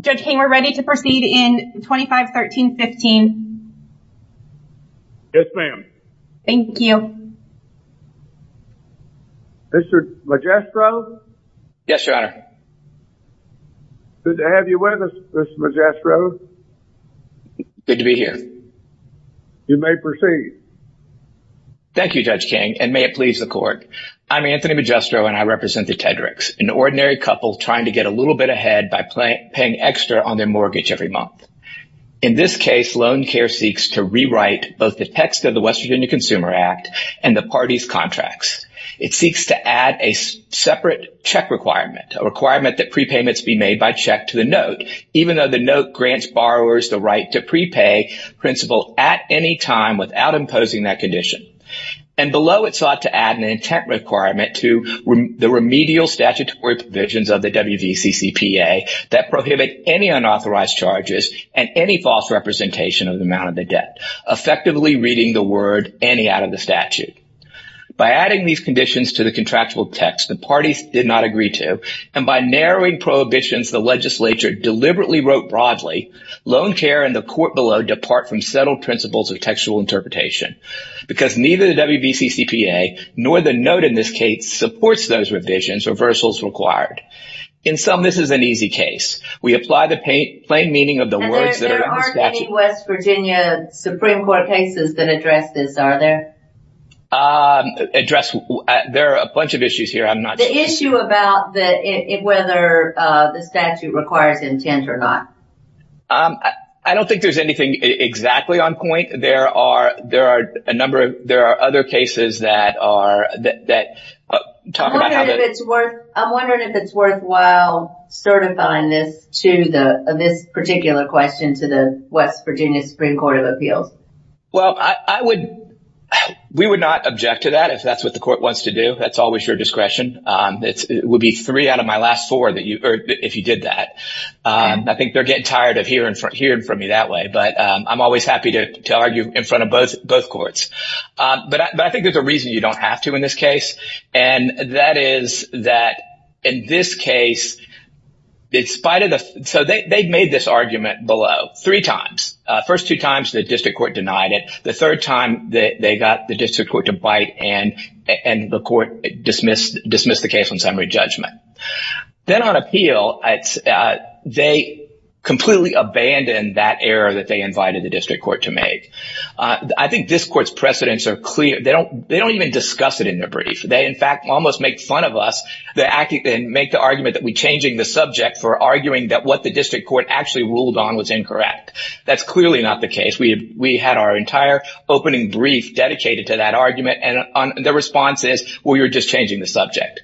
Judge King, we're ready to proceed in 25-13-15. Yes, ma'am. Thank you. Mr. Magistro? Yes, Your Honor. Good to have you with us, Mr. Magistro. Good to be here. You may proceed. Thank you, Judge King, and may it please the court. I'm Anthony Magistro and I represent the Tedericks, an ordinary couple trying to get a little bit ahead by paying extra on their mortgage every month. In this case, Loancare seeks to rewrite both the text of the West Virginia Consumer Act and the party's contracts. It seeks to add a separate check requirement, a requirement that prepayments be made by check to the note, even though the note grants borrowers the right to prepay principal at any time without imposing that condition. And below, it sought to add an intent requirement to the remedial statutory provisions of the WVCCPA that prohibit any unauthorized charges and any false representation of the amount of the debt, effectively reading the word any out of the statute. By adding these conditions to the contractual text, the parties did not agree to, and by narrowing prohibitions the legislature deliberately wrote broadly, Loancare and the court below depart from settled principles of textual interpretation because neither the WVCCPA nor the note in this case supports those provisions or reversals required. In sum, this is an easy case. We apply the plain meaning of the words that are in the statute. And there aren't any West Virginia Supreme Court cases that address this, are there? Address? There are a bunch of issues here. I'm not sure. The issue about whether the statute requires intent or not. I don't think there's anything exactly on point. I think there are a number of, there are other cases that are, that talk about how to... I'm wondering if it's worthwhile certifying this to the, this particular question to the West Virginia Supreme Court of Appeals. Well, I would, we would not object to that if that's what the court wants to do. That's always your discretion. It would be three out of my last four that you, or if you did that. I think they're getting tired of hearing from me that way, but I'm always happy to argue in front of both courts. But I think there's a reason you don't have to in this case. And that is that in this case, in spite of the, so they made this argument below three times, first two times the district court denied it, the third time that they got the district court to bite and the court dismissed the case on summary judgment. Then on appeal, they completely abandoned that error that they invited the district court to make. I think this court's precedents are clear. They don't, they don't even discuss it in their brief. They, in fact, almost make fun of us. They're acting and make the argument that we changing the subject for arguing that what the district court actually ruled on was incorrect. That's clearly not the case. We, we had our entire opening brief dedicated to that argument. And the response is, well, you're just changing the subject.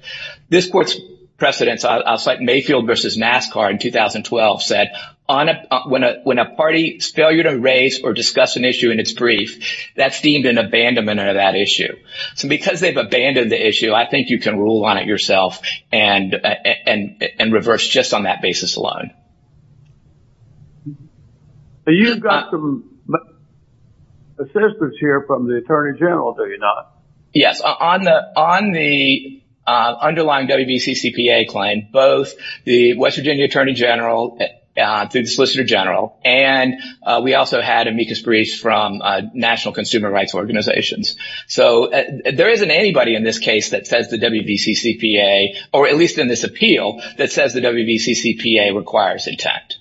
This court's precedents, I'll cite Mayfield versus NASCAR in 2012 said, on a, when a, a party's failure to raise or discuss an issue in its brief, that's deemed an abandonment of that issue. So because they've abandoned the issue, I think you can rule on it yourself and, and, and reverse just on that basis alone. You've got some assistance here from the attorney general, do you not? Yes. On the, on the underlying WBCCPA claim, both the West Virginia attorney general, the solicitor general, and we also had amicus briefs from national consumer rights organizations. So there isn't anybody in this case that says the WBCCPA, or at least in this appeal that says the WBCCPA requires intent.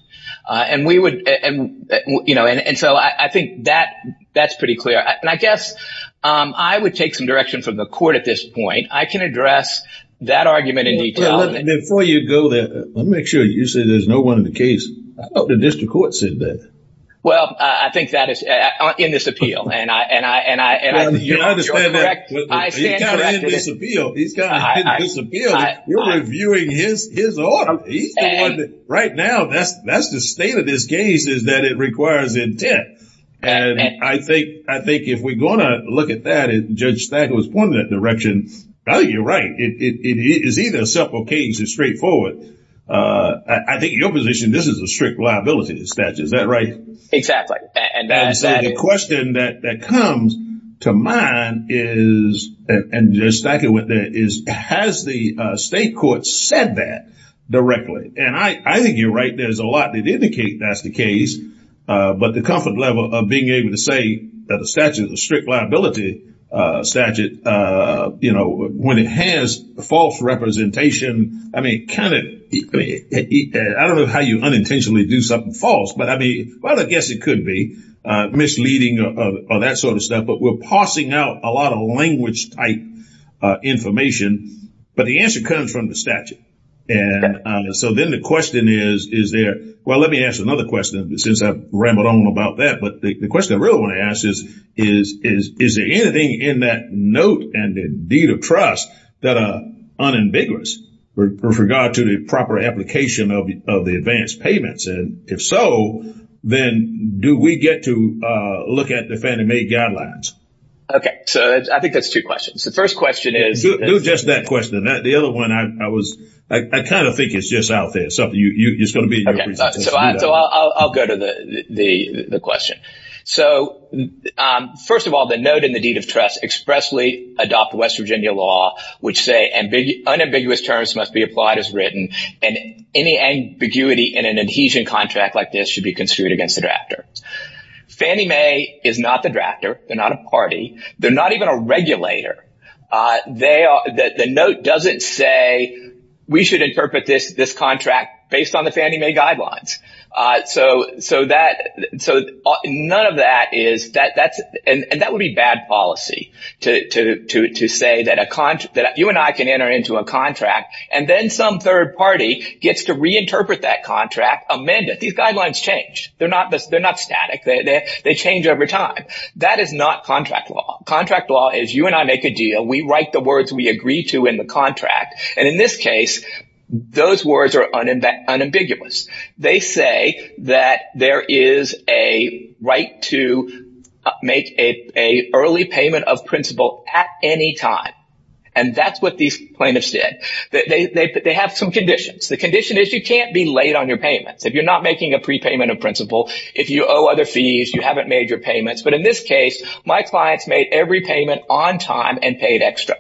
And we would, and, you know, and so I think that that's pretty clear. And I guess I would take some direction from the court at this point. I can address that argument in detail. Before you go there, let me make sure you say there's no one in the case. I thought the district court said that. Well, I think that is in this appeal. And I, and I, and I, and I, you understand that, he's got it in this appeal. He's got it in this appeal. You're reviewing his, his order. He's the one that, right now, that's, that's the state of this case is that it requires intent. And I think, I think if we're going to look at that and Judge Stagg was pointing that direction, you're right. It is either self-occasion straightforward. I think your position, this is a strict liability statute, is that right? And the question that comes to mind is, and Judge Stagg went there, is has the state court said that directly? And I think you're right. There's a lot that indicate that's the case. But the comfort level of being able to say that the statute is a strict liability statute, you know, when it has false representation, I mean, kind of, I don't know how you unintentionally do something false, but I mean, well, I guess it could be misleading or that sort of stuff, but we're parsing out a lot of language type information, but the answer comes from the statute. And so then the question is, is there, well, let me ask another question since I've rambled on about that. But the question I really want to ask is, is there anything in that note and the deed of trust that are unambiguous with regard to the proper application of the advance payments? And if so, then do we get to look at the Fannie Mae guidelines? OK, so I think that's two questions. The first question is. Do just that question. The other one, I was, I kind of think it's just out there. So I'll go to the question. So first of all, the note and the deed of trust expressly adopt West Virginia law, which say unambiguous terms must be applied as written. And any ambiguity in an adhesion contract like this should be construed against the drafter. Fannie Mae is not the drafter. They're not a party. They're not even a regulator. The note doesn't say we should interpret this contract based on the Fannie Mae guidelines. So none of that is, and that would be bad policy to say that you and I can enter into a contract and then some third party gets to reinterpret that contract, amend it. These guidelines change. They're not static. They change over time. That is not contract law. Contract law is you and I make a deal. We write the words we agree to in the contract. And in this case, those words are unambiguous. They say that there is a right to make a early payment of principle at any time. And that's what these plaintiffs did. They have some conditions. The condition is you can't be late on your payments. If you're not making a prepayment of principle, if you owe other fees, you haven't made your payments. But in this case, my clients made every payment on time and paid extra.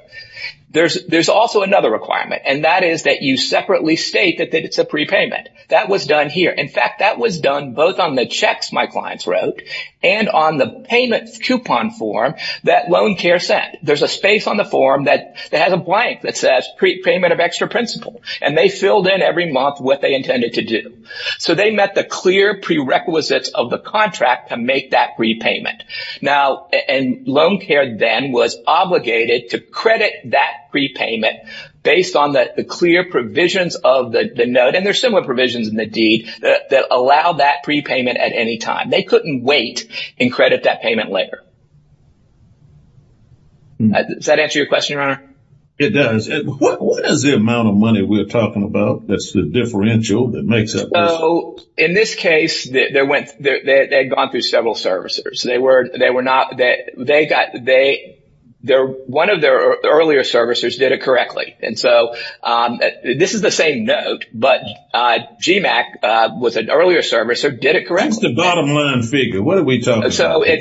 There's also another requirement, and that is that you separately state that it's a prepayment. That was done here. In fact, that was done both on the checks my clients wrote and on the payment coupon form that Loan Care sent. There's a space on the form that has a blank that says prepayment of extra principle. And they filled in every month what they intended to do. So they met the clear prerequisites of the contract to make that repayment. Now, and Loan Care then was obligated to credit that prepayment based on the clear provisions of the note. And there's similar provisions in the deed that allow that prepayment at any time. They couldn't wait and credit that payment later. Does that answer your question, Your Honor? It does. What is the amount of money we're talking about that's the differential that makes up this? In this case, they had gone through several servicers. One of their earlier servicers did it correctly. And so this is the same note, but GMAC was an earlier servicer, did it correctly. That's the bottom line figure. What are we talking about? So they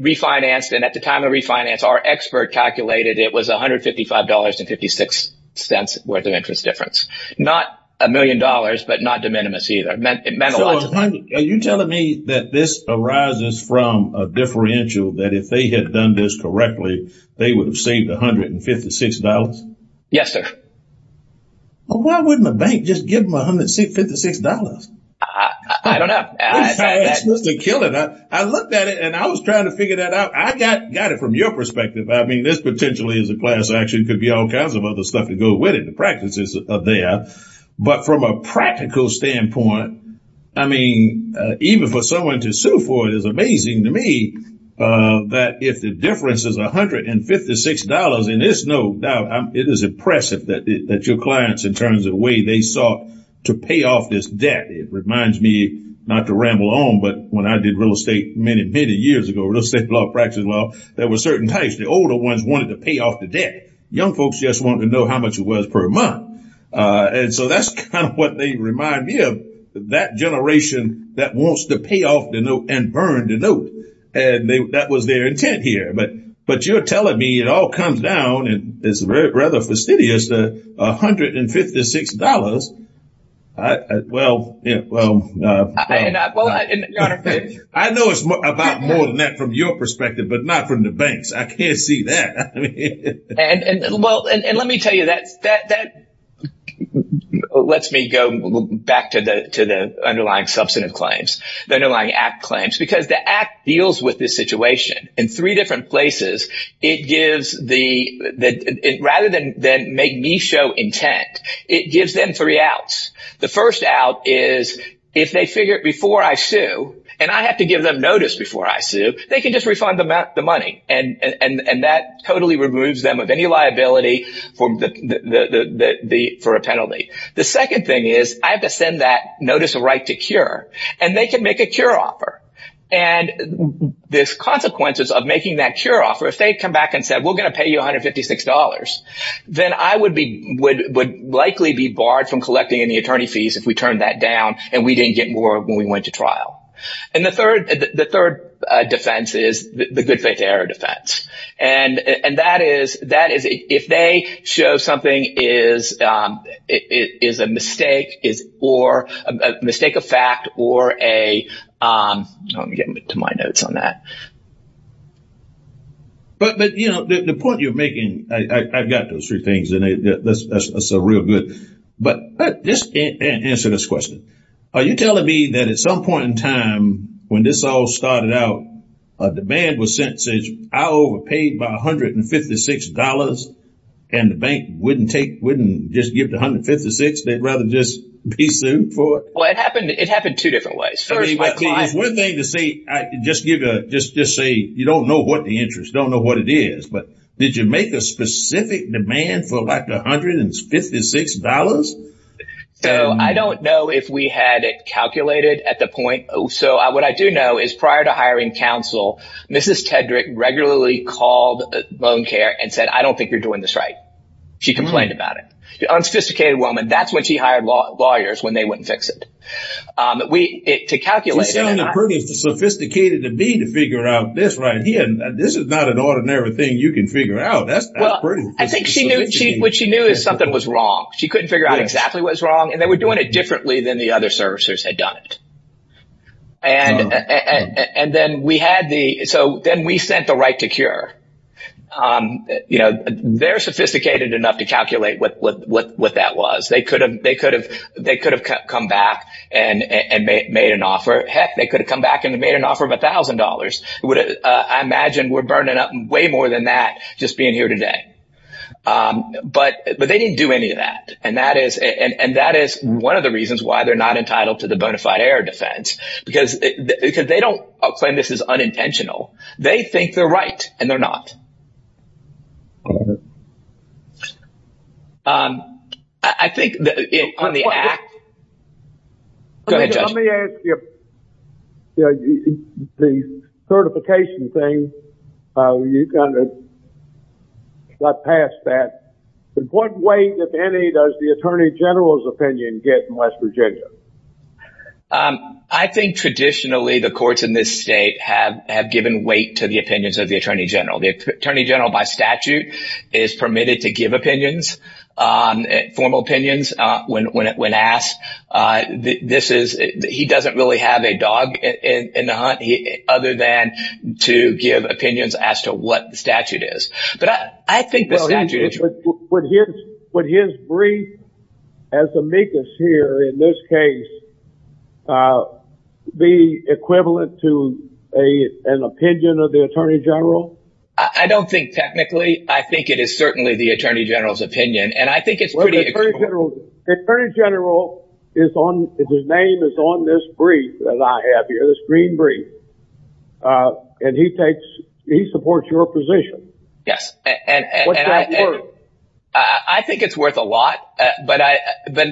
refinanced. And at the time of refinance, our expert calculated it was $155.56 worth of interest difference. Not a million dollars, but not de minimis either. Are you telling me that this arises from a differential, that if they had done this correctly, they would have saved $156? Yes, sir. Why wouldn't a bank just give them $156? I don't know. I looked at it and I was trying to figure that out. I got it from your perspective. I mean, this potentially is a class action, could be all kinds of other stuff to go with it. The practices are there. But from a practical standpoint, I mean, even for someone to sue for it is amazing to me that if the difference is $156 in this note, it is impressive that your clients, in terms of the way they sought to pay off this debt, it reminds me not to ramble on. But when I did real estate many, many years ago, real estate law practice, well, there were certain types. The older ones wanted to pay off the debt. Young folks just wanted to know how much it was per month. And so that's kind of what they remind me of, that generation that wants to pay off the note and burn the note. And that was their intent here. But you're telling me it all comes down, and it's rather fastidious, to $156. Well, I know it's about more than that from your perspective, but not from the banks. I can't see that. And let me tell you, that lets me go back to the underlying substantive claims, the underlying ACT claims, because the ACT deals with this situation in three different places. Rather than make me show intent, it gives them three outs. The first out is if they figure it before I sue, and I have to give them notice before I do, they can just refund the money. And that totally removes them of any liability for a penalty. The second thing is I have to send that notice of right to cure, and they can make a cure offer. And the consequences of making that cure offer, if they come back and said, we're going to pay you $156, then I would likely be barred from collecting any attorney fees if we turned that down and we didn't get more when we went to trial. And the third defense is the good faith error defense. And that is if they show something is a mistake or a mistake of fact or a, let me get to my notes on that. But, you know, the point you're making, I've got those three things, and that's a real good. But just answer this question. Are you telling me that at some point in time when this all started out, a demand was sent and said, I overpaid by $156, and the bank wouldn't take, wouldn't just give the $156, they'd rather just be sued for it? Well, it happened two different ways. First, my client... I mean, it's one thing to say, just say you don't know what the interest, don't know what it is. But did you make a specific demand for like the $156? So I don't know if we had it calculated at the point. So what I do know is prior to hiring counsel, Mrs. Tedrick regularly called Loan Care and said, I don't think you're doing this right. She complained about it. The unsophisticated woman, that's when she hired lawyers, when they wouldn't fix it. We, to calculate... You sound pretty sophisticated to me to figure out this right here. This is not an ordinary thing you can figure out. That's pretty... I think what she knew is something was wrong. She couldn't figure out exactly what was wrong. And they were doing it differently than the other servicers had done it. And then we had the... So then we sent the right to cure. You know, they're sophisticated enough to calculate what that was. They could have come back and made an offer. Heck, they could have come back and made an offer of $1,000. I imagine we're burning up way more than that just being here today. But they didn't do any of that. And that is one of the reasons why they're not entitled to the bonafide error defense. Because they don't claim this is unintentional. They think they're right. And they're not. I think on the act... Go ahead, Judge. Let me ask you, the certification thing, you kind of got past that. But what weight, if any, does the Attorney General's opinion get in West Virginia? I think traditionally, the courts in this state have given weight to the opinions of the Attorney General. The Attorney General, by statute, is permitted to give opinions, formal opinions, when asked. He doesn't really have a dog in the hunt, other than to give opinions as to what the statute is. But I think the statute... Would his brief as amicus here, in this case, be equivalent to an opinion of the Attorney General? I don't think technically. I think it is certainly the Attorney General's opinion. And I think it's pretty... The Attorney General, his name is on this brief that I have here, this green brief. And he supports your position. Yes. I think it's worth a lot. But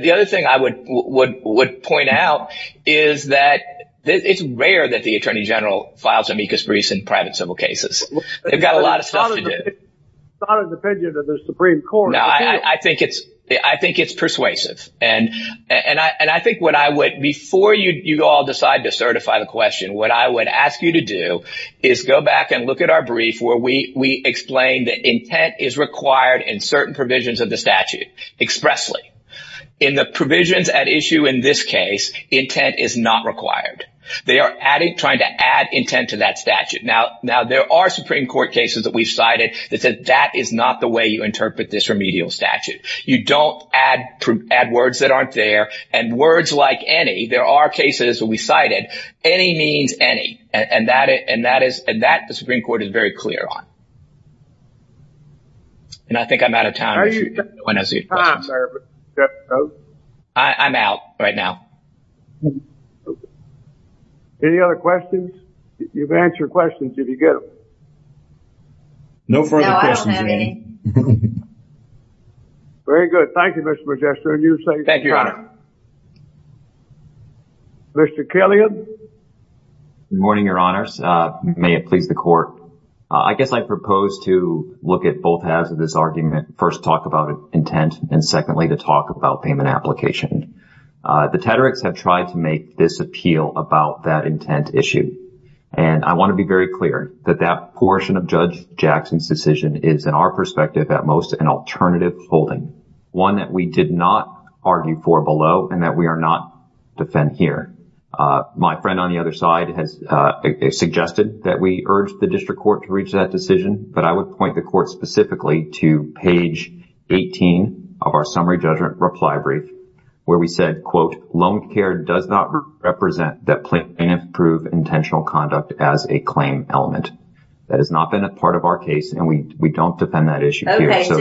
the other thing I would point out is that it's rare that the Attorney General files amicus briefs in private civil cases. They've got a lot of stuff to do. It's not an opinion of the Supreme Court. Now, I think it's persuasive. And I think what I would... Before you all decide to certify the question, what I would ask you to do is go back and look at our brief where we explain that intent is required in certain provisions of the statute expressly. In the provisions at issue in this case, intent is not required. They are trying to add intent to that statute. Now, there are Supreme Court cases that we've cited that said that is not the way you interpret this remedial statute. You don't add words that aren't there. And words like any, there are cases that we cited, any means any. And that the Supreme Court is very clear on. And I think I'm out of time. I'm out right now. Any other questions? You've answered questions if you get them. No further questions. Very good. Thank you, Mr. Magistra. And you say, thank you, Your Honor. Mr. Killian. Good morning, Your Honors. May it please the Court. I guess I propose to look at both halves of this argument. First, talk about intent. And secondly, to talk about payment application. The Tedericks have tried to make this appeal about that intent issue. And I want to be very clear that that portion of Judge Jackson's decision is, in our perspective at most, an alternative holding. One that we did not argue for below and that we are not defend here. My friend on the other side has suggested that we urge the district court to reach that decision. But I would point the court specifically to page 18 of our summary judgment reply brief, where we said, quote, Loan care does not represent that plaintiff proved intentional conduct as a claim element. That has not been a part of our case. And we don't defend that issue here. Okay, so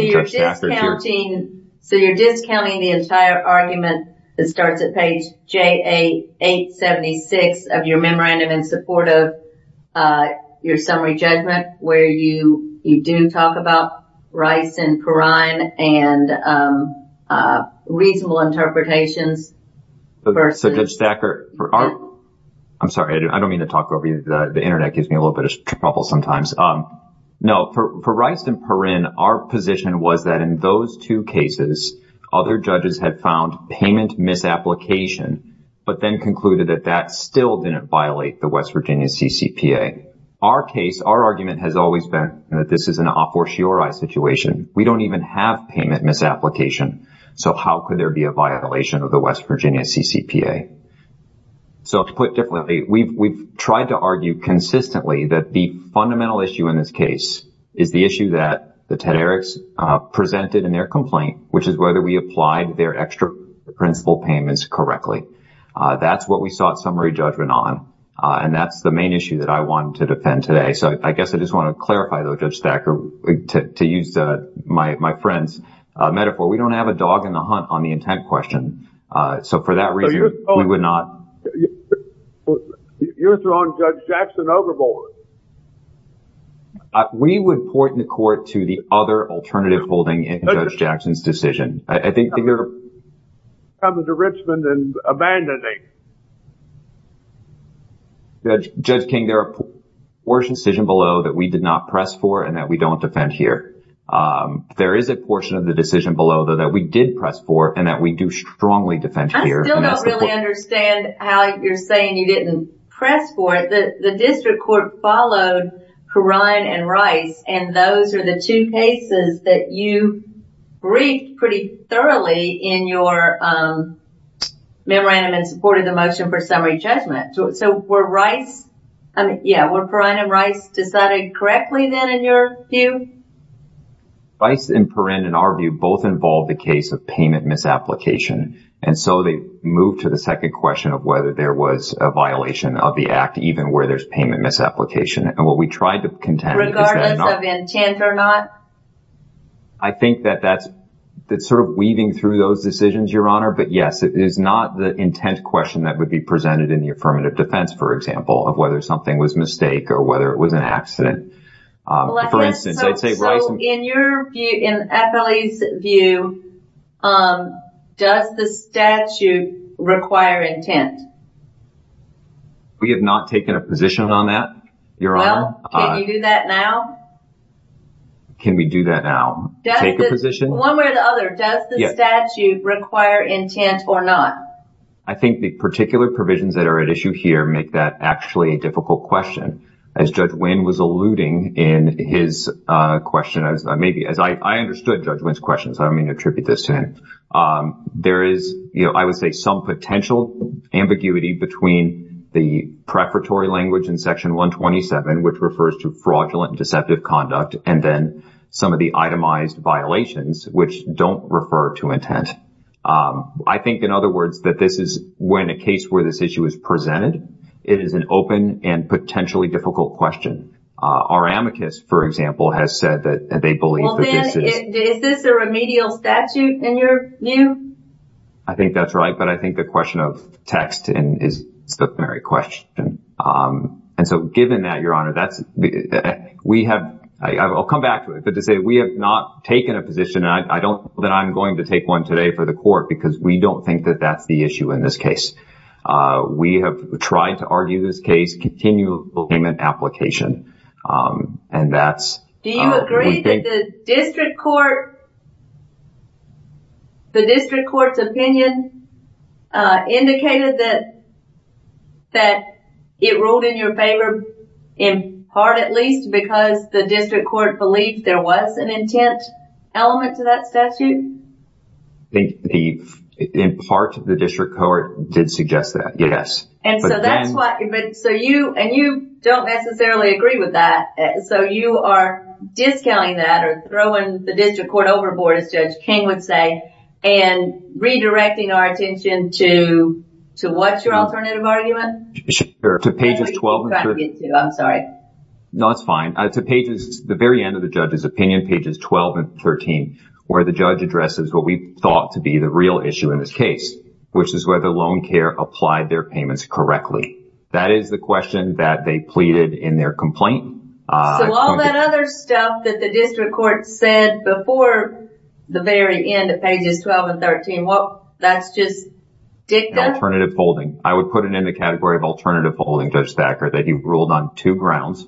you're discounting the entire argument that starts at page JA876 of your memorandum in support of your summary judgment, where you do talk about rice and brine and reasonable interpretations. So, Judge Thacker, I'm sorry, I don't mean to talk over you, the Internet gives me a little bit of trouble sometimes. No, for Rice and Perrin, our position was that in those two cases, other judges had found payment misapplication, but then concluded that that still didn't violate the West Virginia CCPA. Our case, our argument has always been that this is an a fortiori situation. We don't even have payment misapplication. So how could there be a violation of the West Virginia CCPA? So to put it differently, we've tried to argue consistently that the fundamental issue in this case is the issue that the Tederiks presented in their complaint, which is whether we applied their extra principal payments correctly. That's what we sought summary judgment on. And that's the main issue that I want to defend today. So I guess I just want to clarify, though, Judge Thacker, to use my friend's metaphor, we don't have a dog in the hunt on the intent question. So for that reason, we would not. You're throwing Judge Jackson overboard. We would point the court to the other alternative holding in Judge Jackson's decision. I think they're. Coming to Richmond and abandoning. Judge King, there are portions of the decision below that we did not press for and that we don't defend here. There is a portion of the decision below that we did press for and that we do strongly defend here. I still don't really understand how you're saying you didn't press for it. The district court followed Perrine and Rice, and those are the two cases that you briefed pretty thoroughly in your memorandum and supported the motion for summary judgment. So were Rice, I mean, yeah, were Perrine and Rice decided correctly then in your view? Rice and Perrine, in our view, both involved the case of payment misapplication. And so they moved to the second question of whether there was a violation of the act, even where there's payment misapplication. And what we tried to contend. Regardless of intent or not? I think that that's sort of weaving through those decisions, Your Honor. But yes, it is not the intent question that would be presented in the affirmative defense, for example, of whether something was mistake or whether it was an accident. For instance, I'd say Rice and- So in your view, in FLE's view, does the statute require intent? We have not taken a position on that, Your Honor. Well, can you do that now? Can we do that now? Take a position? One way or the other, does the statute require intent or not? I think the particular provisions that are at issue here make that actually a difficult question. As Judge Winn was alluding in his question, as I understood Judge Winn's question, so I don't mean to attribute this to him. There is, I would say, some potential ambiguity between the prefatory language in Section 127, which refers to fraudulent and deceptive conduct, and then some of the itemized violations, which don't refer to intent. I think, in other words, that this is when a case where this issue is presented. It is an open and potentially difficult question. Our amicus, for example, has said that they believe that this is- Well, then, is this a remedial statute in your view? I think that's right, but I think the question of text is a stupendary question. And so given that, Your Honor, that's- We have- I'll come back to it, but to say we have not taken a position, and I don't think that I'm going to take one today for the court because we don't think that that's the issue in this case. We have tried to argue this case, continual payment application, and that's- Do you agree that the district court's opinion indicated that it ruled in your favor, in part at least, because the district court believed there was an intent element to that statute? I think, in part, the district court did suggest that, yes. And so that's what- And you don't necessarily agree with that, so you are discounting that or throwing the district court overboard, as Judge King would say, and redirecting our attention to what's your alternative argument? Sure. To pages 12 and 13. That's what you're trying to get to, I'm sorry. No, that's fine. To pages- the very end of the judge's opinion, pages 12 and 13, where the judge addresses what we thought to be the real issue in this case, which is whether loan care applied their payments correctly. That is the question that they pleaded in their complaint. So all that other stuff that the district court said before the very end of pages 12 and 13, that's just dicta? Alternative folding. I would put it in the category of alternative folding, Judge Thacker, that he ruled on two grounds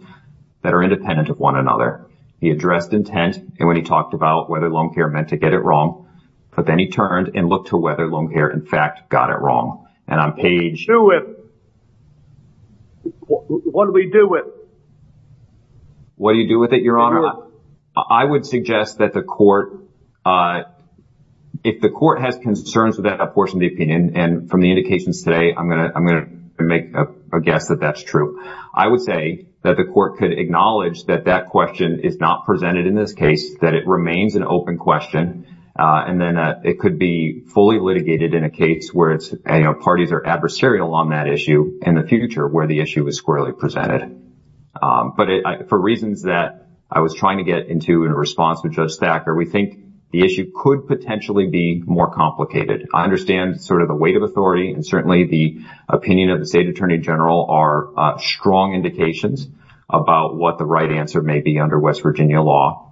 that are independent of one another. He addressed intent, and when he talked about whether loan care meant to get it wrong, but then he turned and looked to whether loan care, in fact, got it wrong. And on page- What do we do with it? What do you do with it, Your Honor? I would suggest that the court, if the court has concerns with that portion of the opinion, and from the indications today, I'm going to make a guess that that's true. I would say that the court could acknowledge that that question is not presented in this case, that it remains an open question, and then it could be fully litigated in a case where parties are adversarial on that issue in the future where the issue is squarely presented. But for reasons that I was trying to get into in response to Judge Thacker, we think the issue could potentially be more complicated. I understand sort of the weight of authority, and certainly the opinion of the state attorney general are strong indications about what the right answer may be under West Virginia law.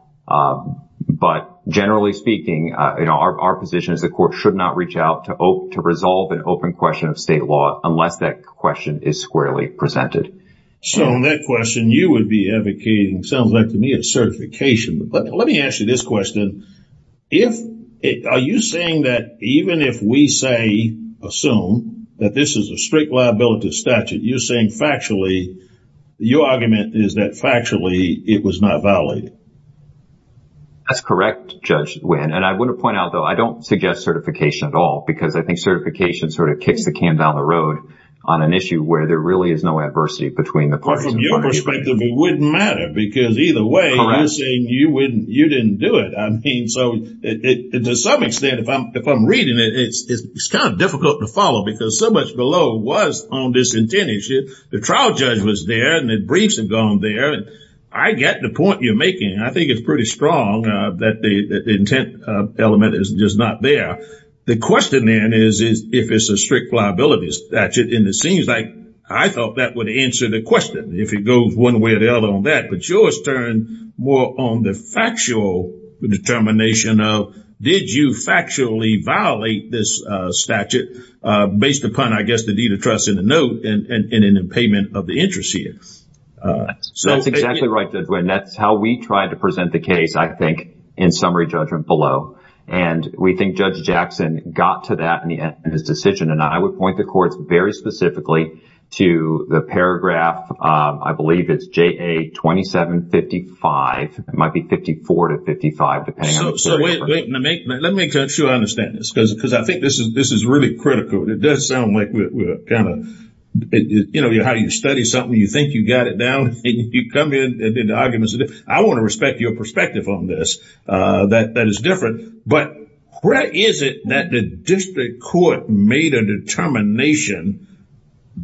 But generally speaking, our position is the court should not reach out to resolve an open question of state law unless that question is squarely presented. So that question you would be advocating sounds like to me a certification. But let me ask you this question. Are you saying that even if we say, assume, that this is a strict liability statute, you're saying factually, your argument is that factually it was not violated? That's correct, Judge Nguyen. And I want to point out, though, I don't suggest certification at all, because I think certification sort of kicks the can down the road on an issue where there really is no adversity between the parties. From your perspective, it wouldn't matter, because either way, you're saying you didn't do it. I mean, so to some extent, if I'm reading it, it's kind of difficult to follow, because so much below was on this intended issue. The trial judge was there, and the briefs had gone there. I get the point you're making. I think it's pretty strong that the intent element is just not there. The question, then, is if it's a strict liability statute. And it seems like I thought that would answer the question, if it goes one way or the other on that. But yours turned more on the factual determination of did you factually violate this statute based upon, I guess, the deed of trust in the note and in the payment of the interest here. That's exactly right. And that's how we tried to present the case, I think, in summary judgment below. And we think Judge Jackson got to that in his decision. And I would point the courts very specifically to the paragraph, I believe it's JA 2755. It might be 54 to 55. So wait. Let me make sure I understand this, because I think this is really critical. It does sound like we're kind of, you know, how you study something, you think you got it down, and you come in and did the arguments. I want to respect your perspective on this. That is different. But where is it that the district court made a determination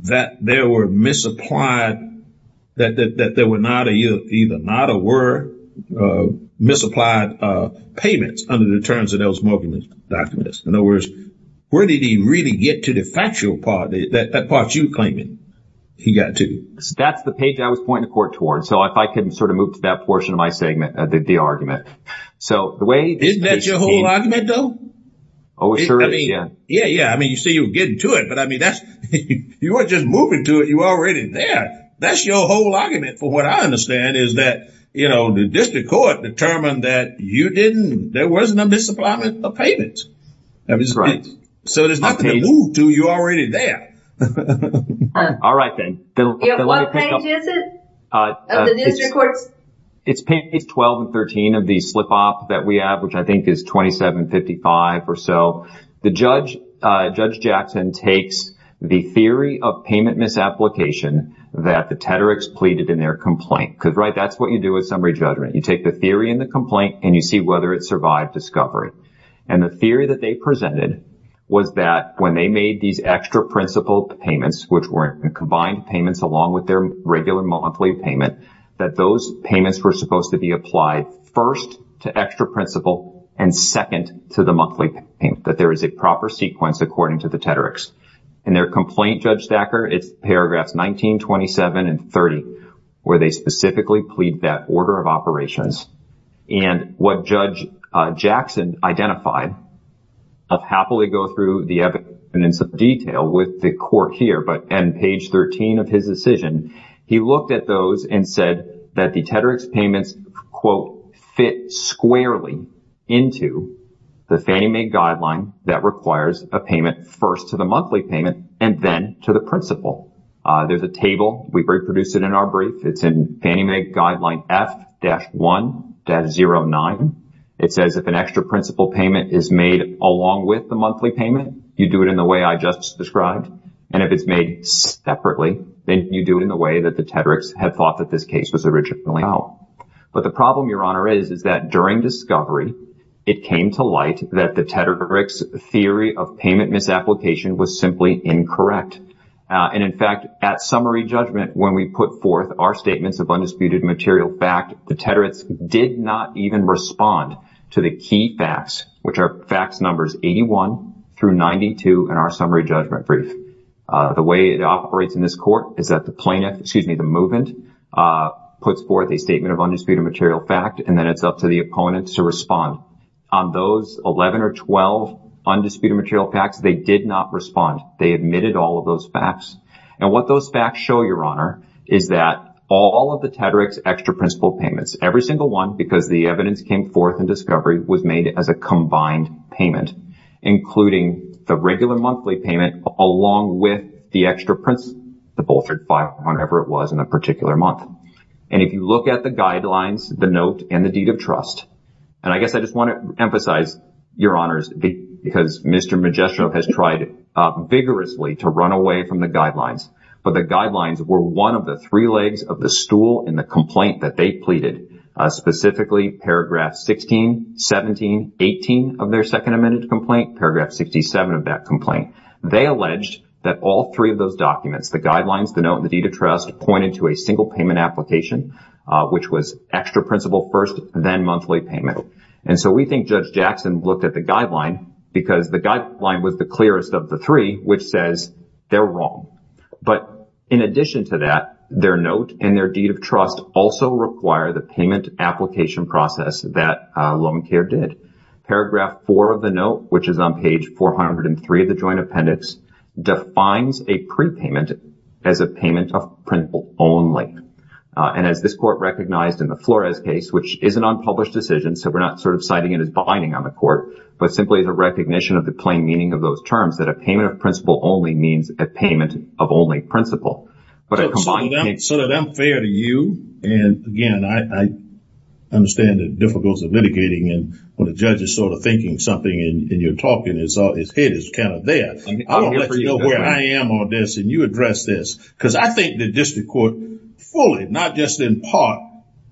that there were misapplied, that there were not either not or were misapplied payments under the terms of those documents? In other words, where did he really get to the factual part, that part you're claiming he got to? That's the page I was pointing the court toward. So if I could sort of move to that portion of my segment, the argument. So the way – Isn't that your whole argument, though? Oh, it sure is, yeah. Yeah, yeah. I mean, you see, you're getting to it. But, I mean, that's – you weren't just moving to it. You were already there. That's your whole argument, from what I understand, is that, you know, the district court determined that you didn't – there wasn't a misapplyment of payments. Right. So there's nothing to move to. You're already there. All right, then. What page is it of the district court's – It's page 12 and 13 of the slip-off that we have, which I think is 2755 or so. The judge, Judge Jackson, takes the theory of payment misapplication that the Tedericks pleaded in their complaint. Because, right, that's what you do with summary judgment. You take the theory in the complaint, and you see whether it survived discovery. And the theory that they presented was that when they made these extra principal payments, which were combined payments along with their regular monthly payment, that those payments were supposed to be applied first to extra principal and second to the monthly payment. That there is a proper sequence, according to the Tedericks. In their complaint, Judge Thacker, it's paragraphs 19, 27, and 30, where they specifically plead that order of operations. And what Judge Jackson identified – I'll happily go through the evidence in some detail with the court here. But on page 13 of his decision, he looked at those and said that the Tedericks payments, quote, fit squarely into the Fannie Mae Guideline that requires a payment first to the monthly payment and then to the principal. There's a table. We've reproduced it in our brief. It's in Fannie Mae Guideline F-1-09. It says if an extra principal payment is made along with the monthly payment, you do it in the way I just described. And if it's made separately, then you do it in the way that the Tedericks had thought that this case was originally about. But the problem, Your Honor, is that during discovery, it came to light that the Tedericks theory of payment misapplication was simply incorrect. And in fact, at summary judgment, when we put forth our statements of undisputed material back, the Tedericks did not even respond to the key facts, which are facts numbers 81 through 92 in our summary judgment brief. The way it operates in this court is that the plaintiff – excuse me – the movant puts forth a statement of undisputed material fact, and then it's up to the opponent to respond. On those 11 or 12 undisputed material facts, they did not respond. They admitted all of those facts. And what those facts show, Your Honor, is that all of the Tedericks extra principal payments, every single one because the evidence came forth in discovery, was made as a combined payment, including the regular monthly payment along with the extra principal, the bolstered file, or whatever it was in a particular month. And if you look at the guidelines, the note, and the deed of trust – and I guess I just want to emphasize, Your Honors, because Mr. Magistro has tried vigorously to run away from the guidelines, but the guidelines were one of the three legs of the stool in the complaint that they pleaded, specifically paragraph 16, 17, 18 of their second amended complaint, paragraph 67 of that complaint. They alleged that all three of those documents, the guidelines, the note, and the deed of trust, pointed to a single payment application, which was extra principal first, then monthly payment. And so we think Judge Jackson looked at the guideline because the guideline was the clearest of the three, which says they're wrong. But in addition to that, their note and their deed of trust also require the payment application process that Lomacare did. Paragraph 4 of the note, which is on page 403 of the joint appendix, defines a prepayment as a payment of principal only. And as this court recognized in the Flores case, which is an unpublished decision, so we're not sort of citing it as binding on the court, but simply as a recognition of the plain meaning of those terms, that a payment of principal only means a payment of only principal. So that I'm fair to you, and, again, I understand the difficulties of litigating and when a judge is sort of thinking something and you're talking, his head is kind of there. I don't know where I am on this, and you address this, because I think the district court fully, not just in part,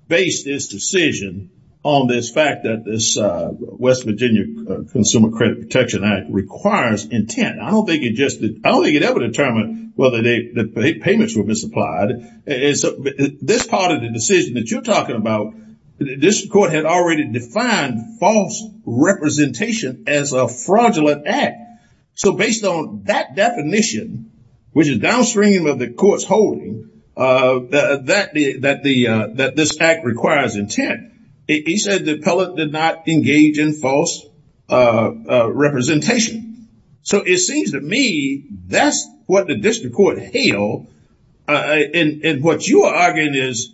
based this decision on this fact that this West Virginia Consumer Credit Protection Act requires intent. I don't think it ever determined whether the payments were misapplied. This part of the decision that you're talking about, the district court had already defined false representation as a fraudulent act. So based on that definition, which is downstream of the court's holding, that this act requires intent. He said the appellate did not engage in false representation. So it seems to me that's what the district court hailed. And what you are arguing is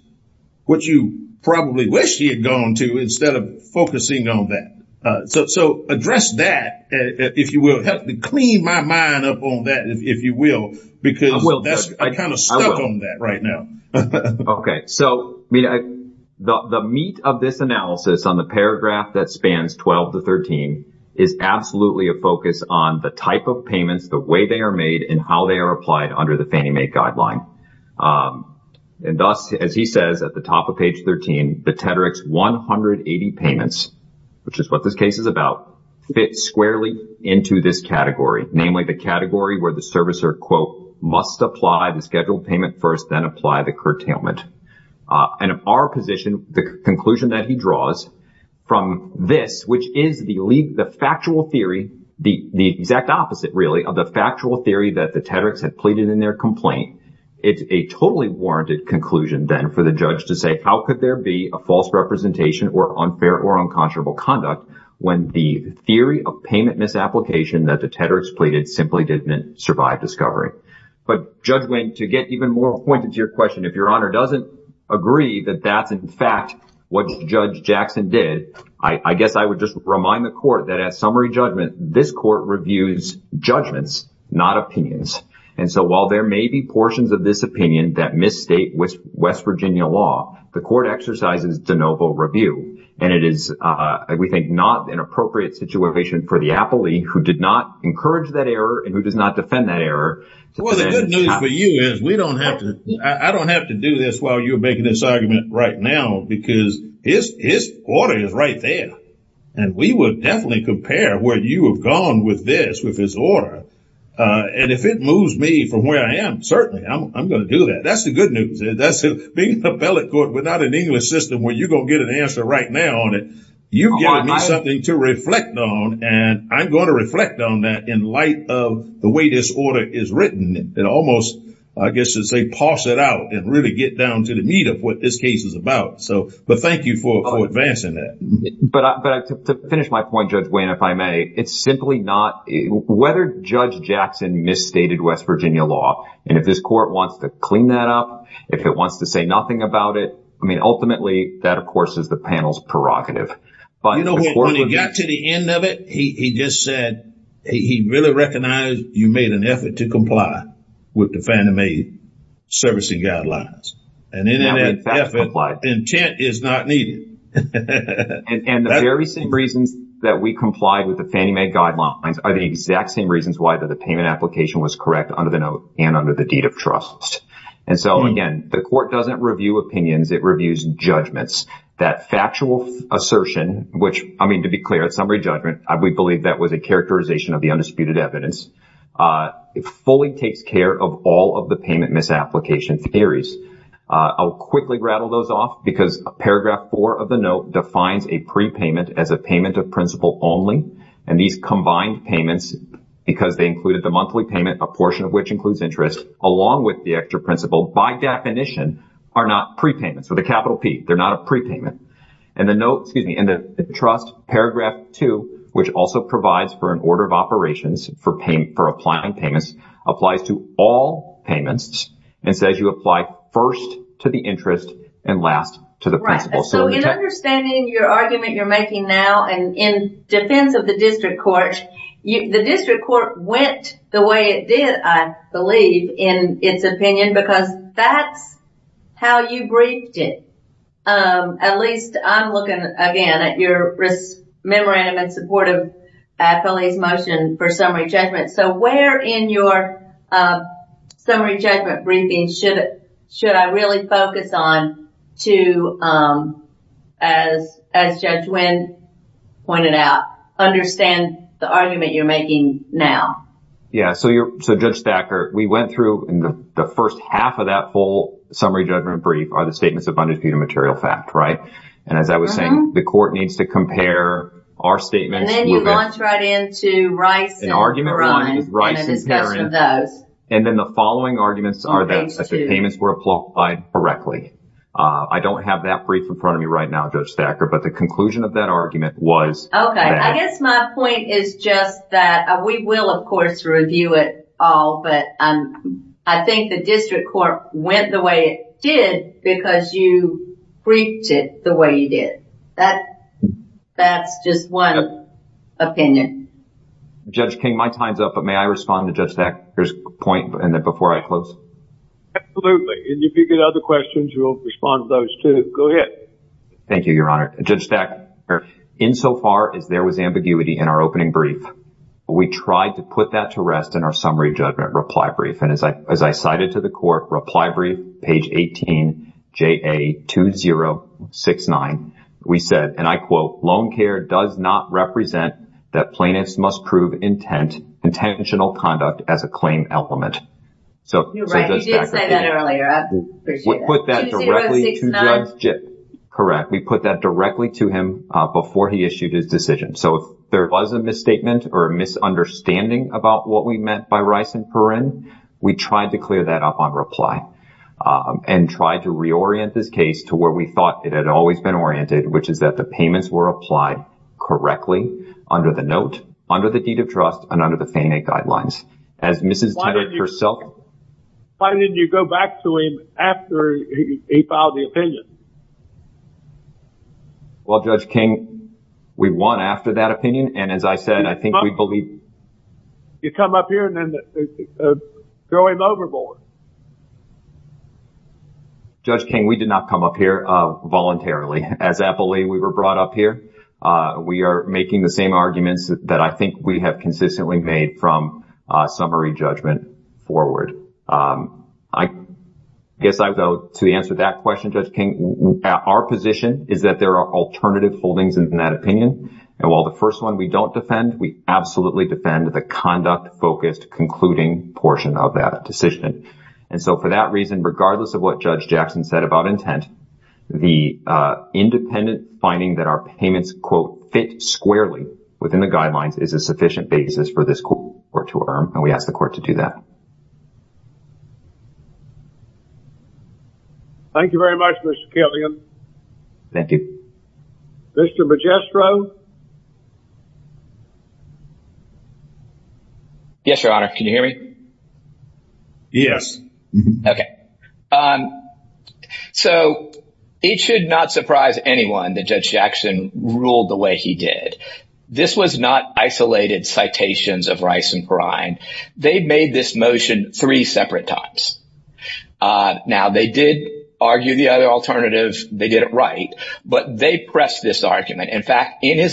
what you probably wish he had gone to instead of focusing on that. So address that, if you will. Help me clean my mind up on that, if you will, because I'm kind of stuck on that right now. Okay. So the meat of this analysis on the paragraph that spans 12 to 13 is absolutely a focus on the type of payments, the way they are made, and how they are applied under the Fannie Mae guideline. And thus, as he says at the top of page 13, the Tedrix 180 payments, which is what this case is about, fit squarely into this category, namely the category where the servicer, quote, must apply the scheduled payment first, then apply the curtailment. And of our position, the conclusion that he draws from this, which is the factual theory, the exact opposite, really, of the factual theory that the Tedrix had pleaded in their complaint, it's a totally warranted conclusion then for the judge to say, how could there be a false representation or unfair or unconscionable conduct when the theory of payment misapplication that the Tedrix pleaded simply didn't survive discovery? But, Judge Wing, to get even more pointed to your question, if Your Honor doesn't agree that that's, in fact, what Judge Jackson did, I guess I would just remind the court that at summary judgment, this court reviews judgments, not opinions. And so while there may be portions of this opinion that misstate West Virginia law, the court exercises de novo review. And it is, we think, not an appropriate situation for the appellee who did not encourage that error and who does not defend that error. Well, the good news for you is we don't have to, I don't have to do this while you're making this argument right now, because his order is right there. And we would definitely compare where you have gone with this, with his order. And if it moves me from where I am, certainly I'm going to do that. That's the good news. Being an appellate court without an English system where you're going to get an answer right now on it, you're giving me something to reflect on. And I'm going to reflect on that in light of the way this order is written. And almost, I guess you'd say, pass it out and really get down to the meat of what this case is about. So, but thank you for advancing that. But to finish my point, Judge Wayne, if I may, it's simply not, whether Judge Jackson misstated West Virginia law, and if this court wants to clean that up, if it wants to say nothing about it, I mean, ultimately, that, of course, is the panel's prerogative. You know, when he got to the end of it, he just said, he really recognized you made an effort to comply with the Fannie Mae servicing guidelines. And in that effort, intent is not needed. And the very same reasons that we complied with the Fannie Mae guidelines are the exact same reasons why the payment application was correct under the note and under the deed of trust. And so, again, the court doesn't review opinions. It reviews judgments. That factual assertion, which, I mean, to be clear, it's summary judgment. We believe that was a characterization of the undisputed evidence. It fully takes care of all of the payment misapplication theories. I'll quickly rattle those off because Paragraph 4 of the note defines a prepayment as a payment of principle only. And these combined payments, because they included the monthly payment, a portion of which includes interest, along with the extra principle, by definition, are not prepayments. With a capital P, they're not a prepayment. And the trust, Paragraph 2, which also provides for an order of operations for applying payments, applies to all payments and says you apply first to the interest and last to the principle. So in understanding your argument you're making now and in defense of the district court, the district court went the way it did, I believe, in its opinion because that's how you briefed it. At least I'm looking, again, at your memorandum in support of Felie's motion for summary judgment. So where in your summary judgment briefing should I really focus on to, as Judge Wynn pointed out, understand the argument you're making now? Yeah, so Judge Thacker, we went through the first half of that full summary judgment brief are the statements of undisputed material fact, right? And as I was saying, the court needs to compare our statements. And then you launch right into Rice and Perron and a discussion of those. And then the following arguments are that the payments were applied correctly. I don't have that brief in front of me right now, Judge Thacker, but the conclusion of that argument was Okay, I guess my point is just that we will, of course, review it all, but I think the district court went the way it did because you briefed it the way you did. That's just one opinion. Judge King, my time's up, but may I respond to Judge Thacker's point before I close? Absolutely, and if you get other questions, we'll respond to those too. Go ahead. Thank you, Your Honor. Judge Thacker, insofar as there was ambiguity in our opening brief, we tried to put that to rest in our summary judgment reply brief. And as I cited to the court, reply brief, page 18, JA 2069, we said, and I quote, Loan care does not represent that plaintiffs must prove intent, intentional conduct as a claim element. You did say that earlier. Correct. We put that directly to him before he issued his decision. So if there was a misstatement or a misunderstanding about what we meant by Rice and Perrin, we tried to clear that up on reply and tried to reorient this case to where we thought it had always been oriented, which is that the payments were applied correctly under the note, under the deed of trust and under the Fannie Mae guidelines. Why didn't you go back to him after he filed the opinion? Well, Judge King, we won after that opinion. And as I said, I think we believe... You come up here and then throw him overboard. Judge King, we did not come up here voluntarily. As appellee, we were brought up here. We are making the same arguments that I think we have consistently made from summary judgment forward. I guess I would go to answer that question, Judge King. Our position is that there are alternative holdings in that opinion. And while the first one we don't defend, we absolutely defend the conduct-focused concluding portion of that decision. And so for that reason, regardless of what Judge Jackson said about intent, the independent finding that our payments, quote, fit squarely within the guidelines is a sufficient basis for this court to affirm. And we ask the court to do that. Thank you very much, Mr. Killian. Thank you. Mr. Magistro? Yes, Your Honor. Can you hear me? Yes. Okay. So it should not surprise anyone that Judge Jackson ruled the way he did. This was not isolated citations of rice and brine. They made this motion three separate times. Now, they did argue the other alternative. They did it right. But they pressed this argument. In fact, in the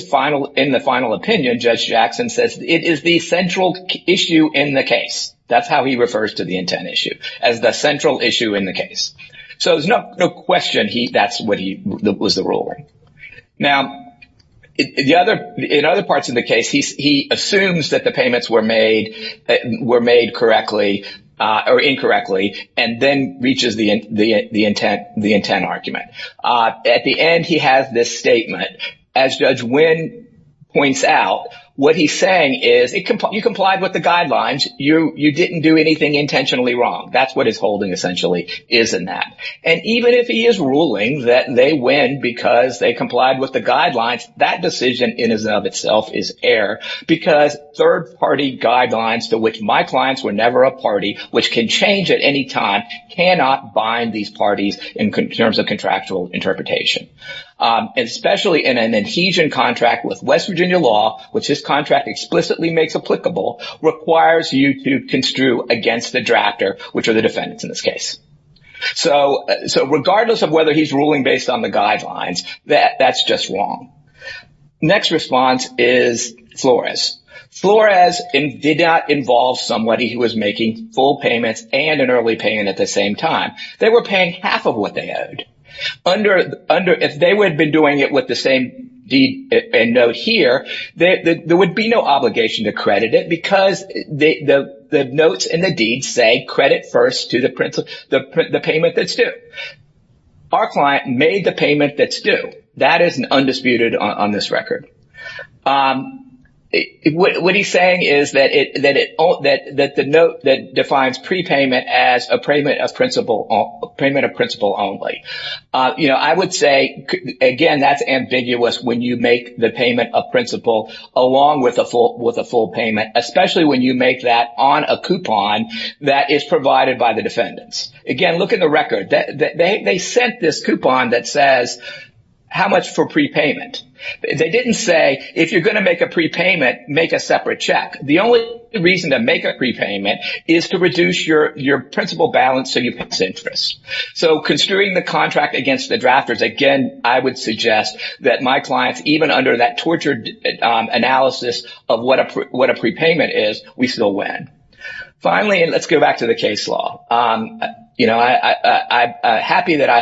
final opinion, Judge Jackson says it is the central issue in the case. That's how he refers to the intent issue, as the central issue in the case. So there's no question that's what he was ruling. Now, in other parts of the case, he assumes that the payments were made correctly or incorrectly and then reaches the intent argument. At the end, he has this statement. As Judge Wynn points out, what he's saying is you complied with the guidelines. You didn't do anything intentionally wrong. That's what his holding essentially is in that. And even if he is ruling that they win because they complied with the guidelines, that decision in and of itself is air because third-party guidelines to which my clients were never a party, which can change at any time, cannot bind these parties in terms of contractual interpretation. Especially in an adhesion contract with West Virginia law, which this contract explicitly makes applicable, requires you to construe against the drafter, which are the defendants in this case. So regardless of whether he's ruling based on the guidelines, that's just wrong. Next response is Flores. Flores did not involve somebody who was making full payments and an early payment at the same time. They were paying half of what they owed. If they would have been doing it with the same deed and note here, there would be no obligation to credit it because the notes and the deeds say credit first to the payment that's due. Our client made the payment that's due. That is undisputed on this record. What he's saying is that the note that defines prepayment as a payment of principle only. I would say, again, that's ambiguous when you make the payment of principle along with a full payment, especially when you make that on a coupon that is provided by the defendants. Again, look at the record. They sent this coupon that says how much for prepayment. They didn't say if you're going to make a prepayment, make a separate check. The only reason to make a prepayment is to reduce your principle balance so you pass interest. So construing the contract against the drafters, again, I would suggest that my clients, even under that tortured analysis of what a prepayment is, we still win. Finally, let's go back to the case law. I'm happy that I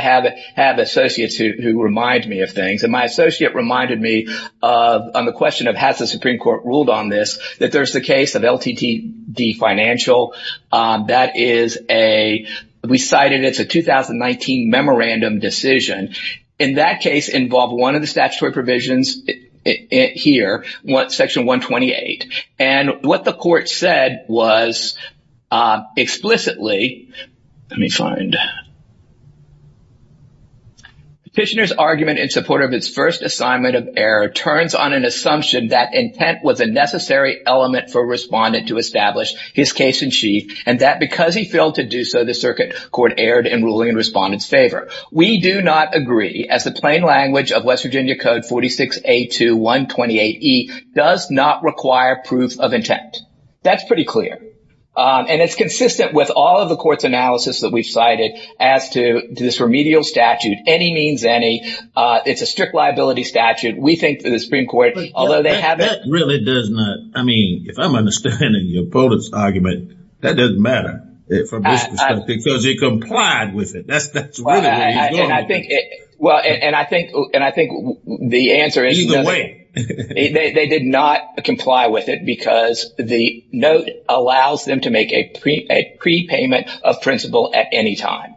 have associates who remind me of things. And my associate reminded me on the question of has the Supreme Court ruled on this, that there's the case of LTTD Financial. That is a, we cited it's a 2019 memorandum decision. In that case involved one of the statutory provisions here, Section 128. And what the court said was explicitly, let me find. Petitioner's argument in support of its first assignment of error turns on an assumption that intent was a necessary element for a respondent to establish his case in chief. And that because he failed to do so, the circuit court erred in ruling in respondent's favor. We do not agree as the plain language of West Virginia Code 46A2128E does not require proof of intent. That's pretty clear. And it's consistent with all of the court's analysis that we've cited as to this remedial statute. Any means any. It's a strict liability statute. We think that the Supreme Court, although they have. That really does not. I mean, if I'm understanding your opponent's argument, that doesn't matter. Because he complied with it. That's really what he's doing. Well, and I think and I think the answer is. Either way. They did not comply with it because the note allows them to make a prepayment of principle at any time.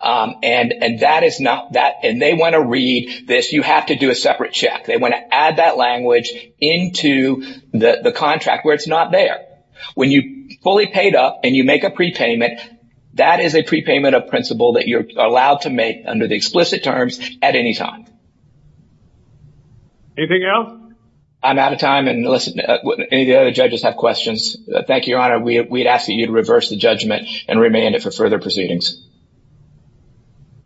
And that is not that. And they want to read this. You have to do a separate check. They want to add that language into the contract where it's not there. When you fully paid up and you make a prepayment, that is a prepayment of principle that you're allowed to make under the explicit terms at any time. Anything else? I'm out of time. And listen, any of the other judges have questions? Thank you, Your Honor. We'd ask that you'd reverse the judgment and remand it for further proceedings.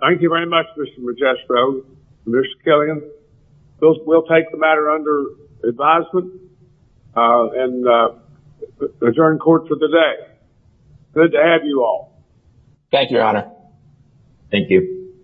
Thank you very much, Mr. Magistro. Mr. Killian, we'll take the matter under advisement and adjourn court for the day. Good to have you all. Thank you, Your Honor. Thank you.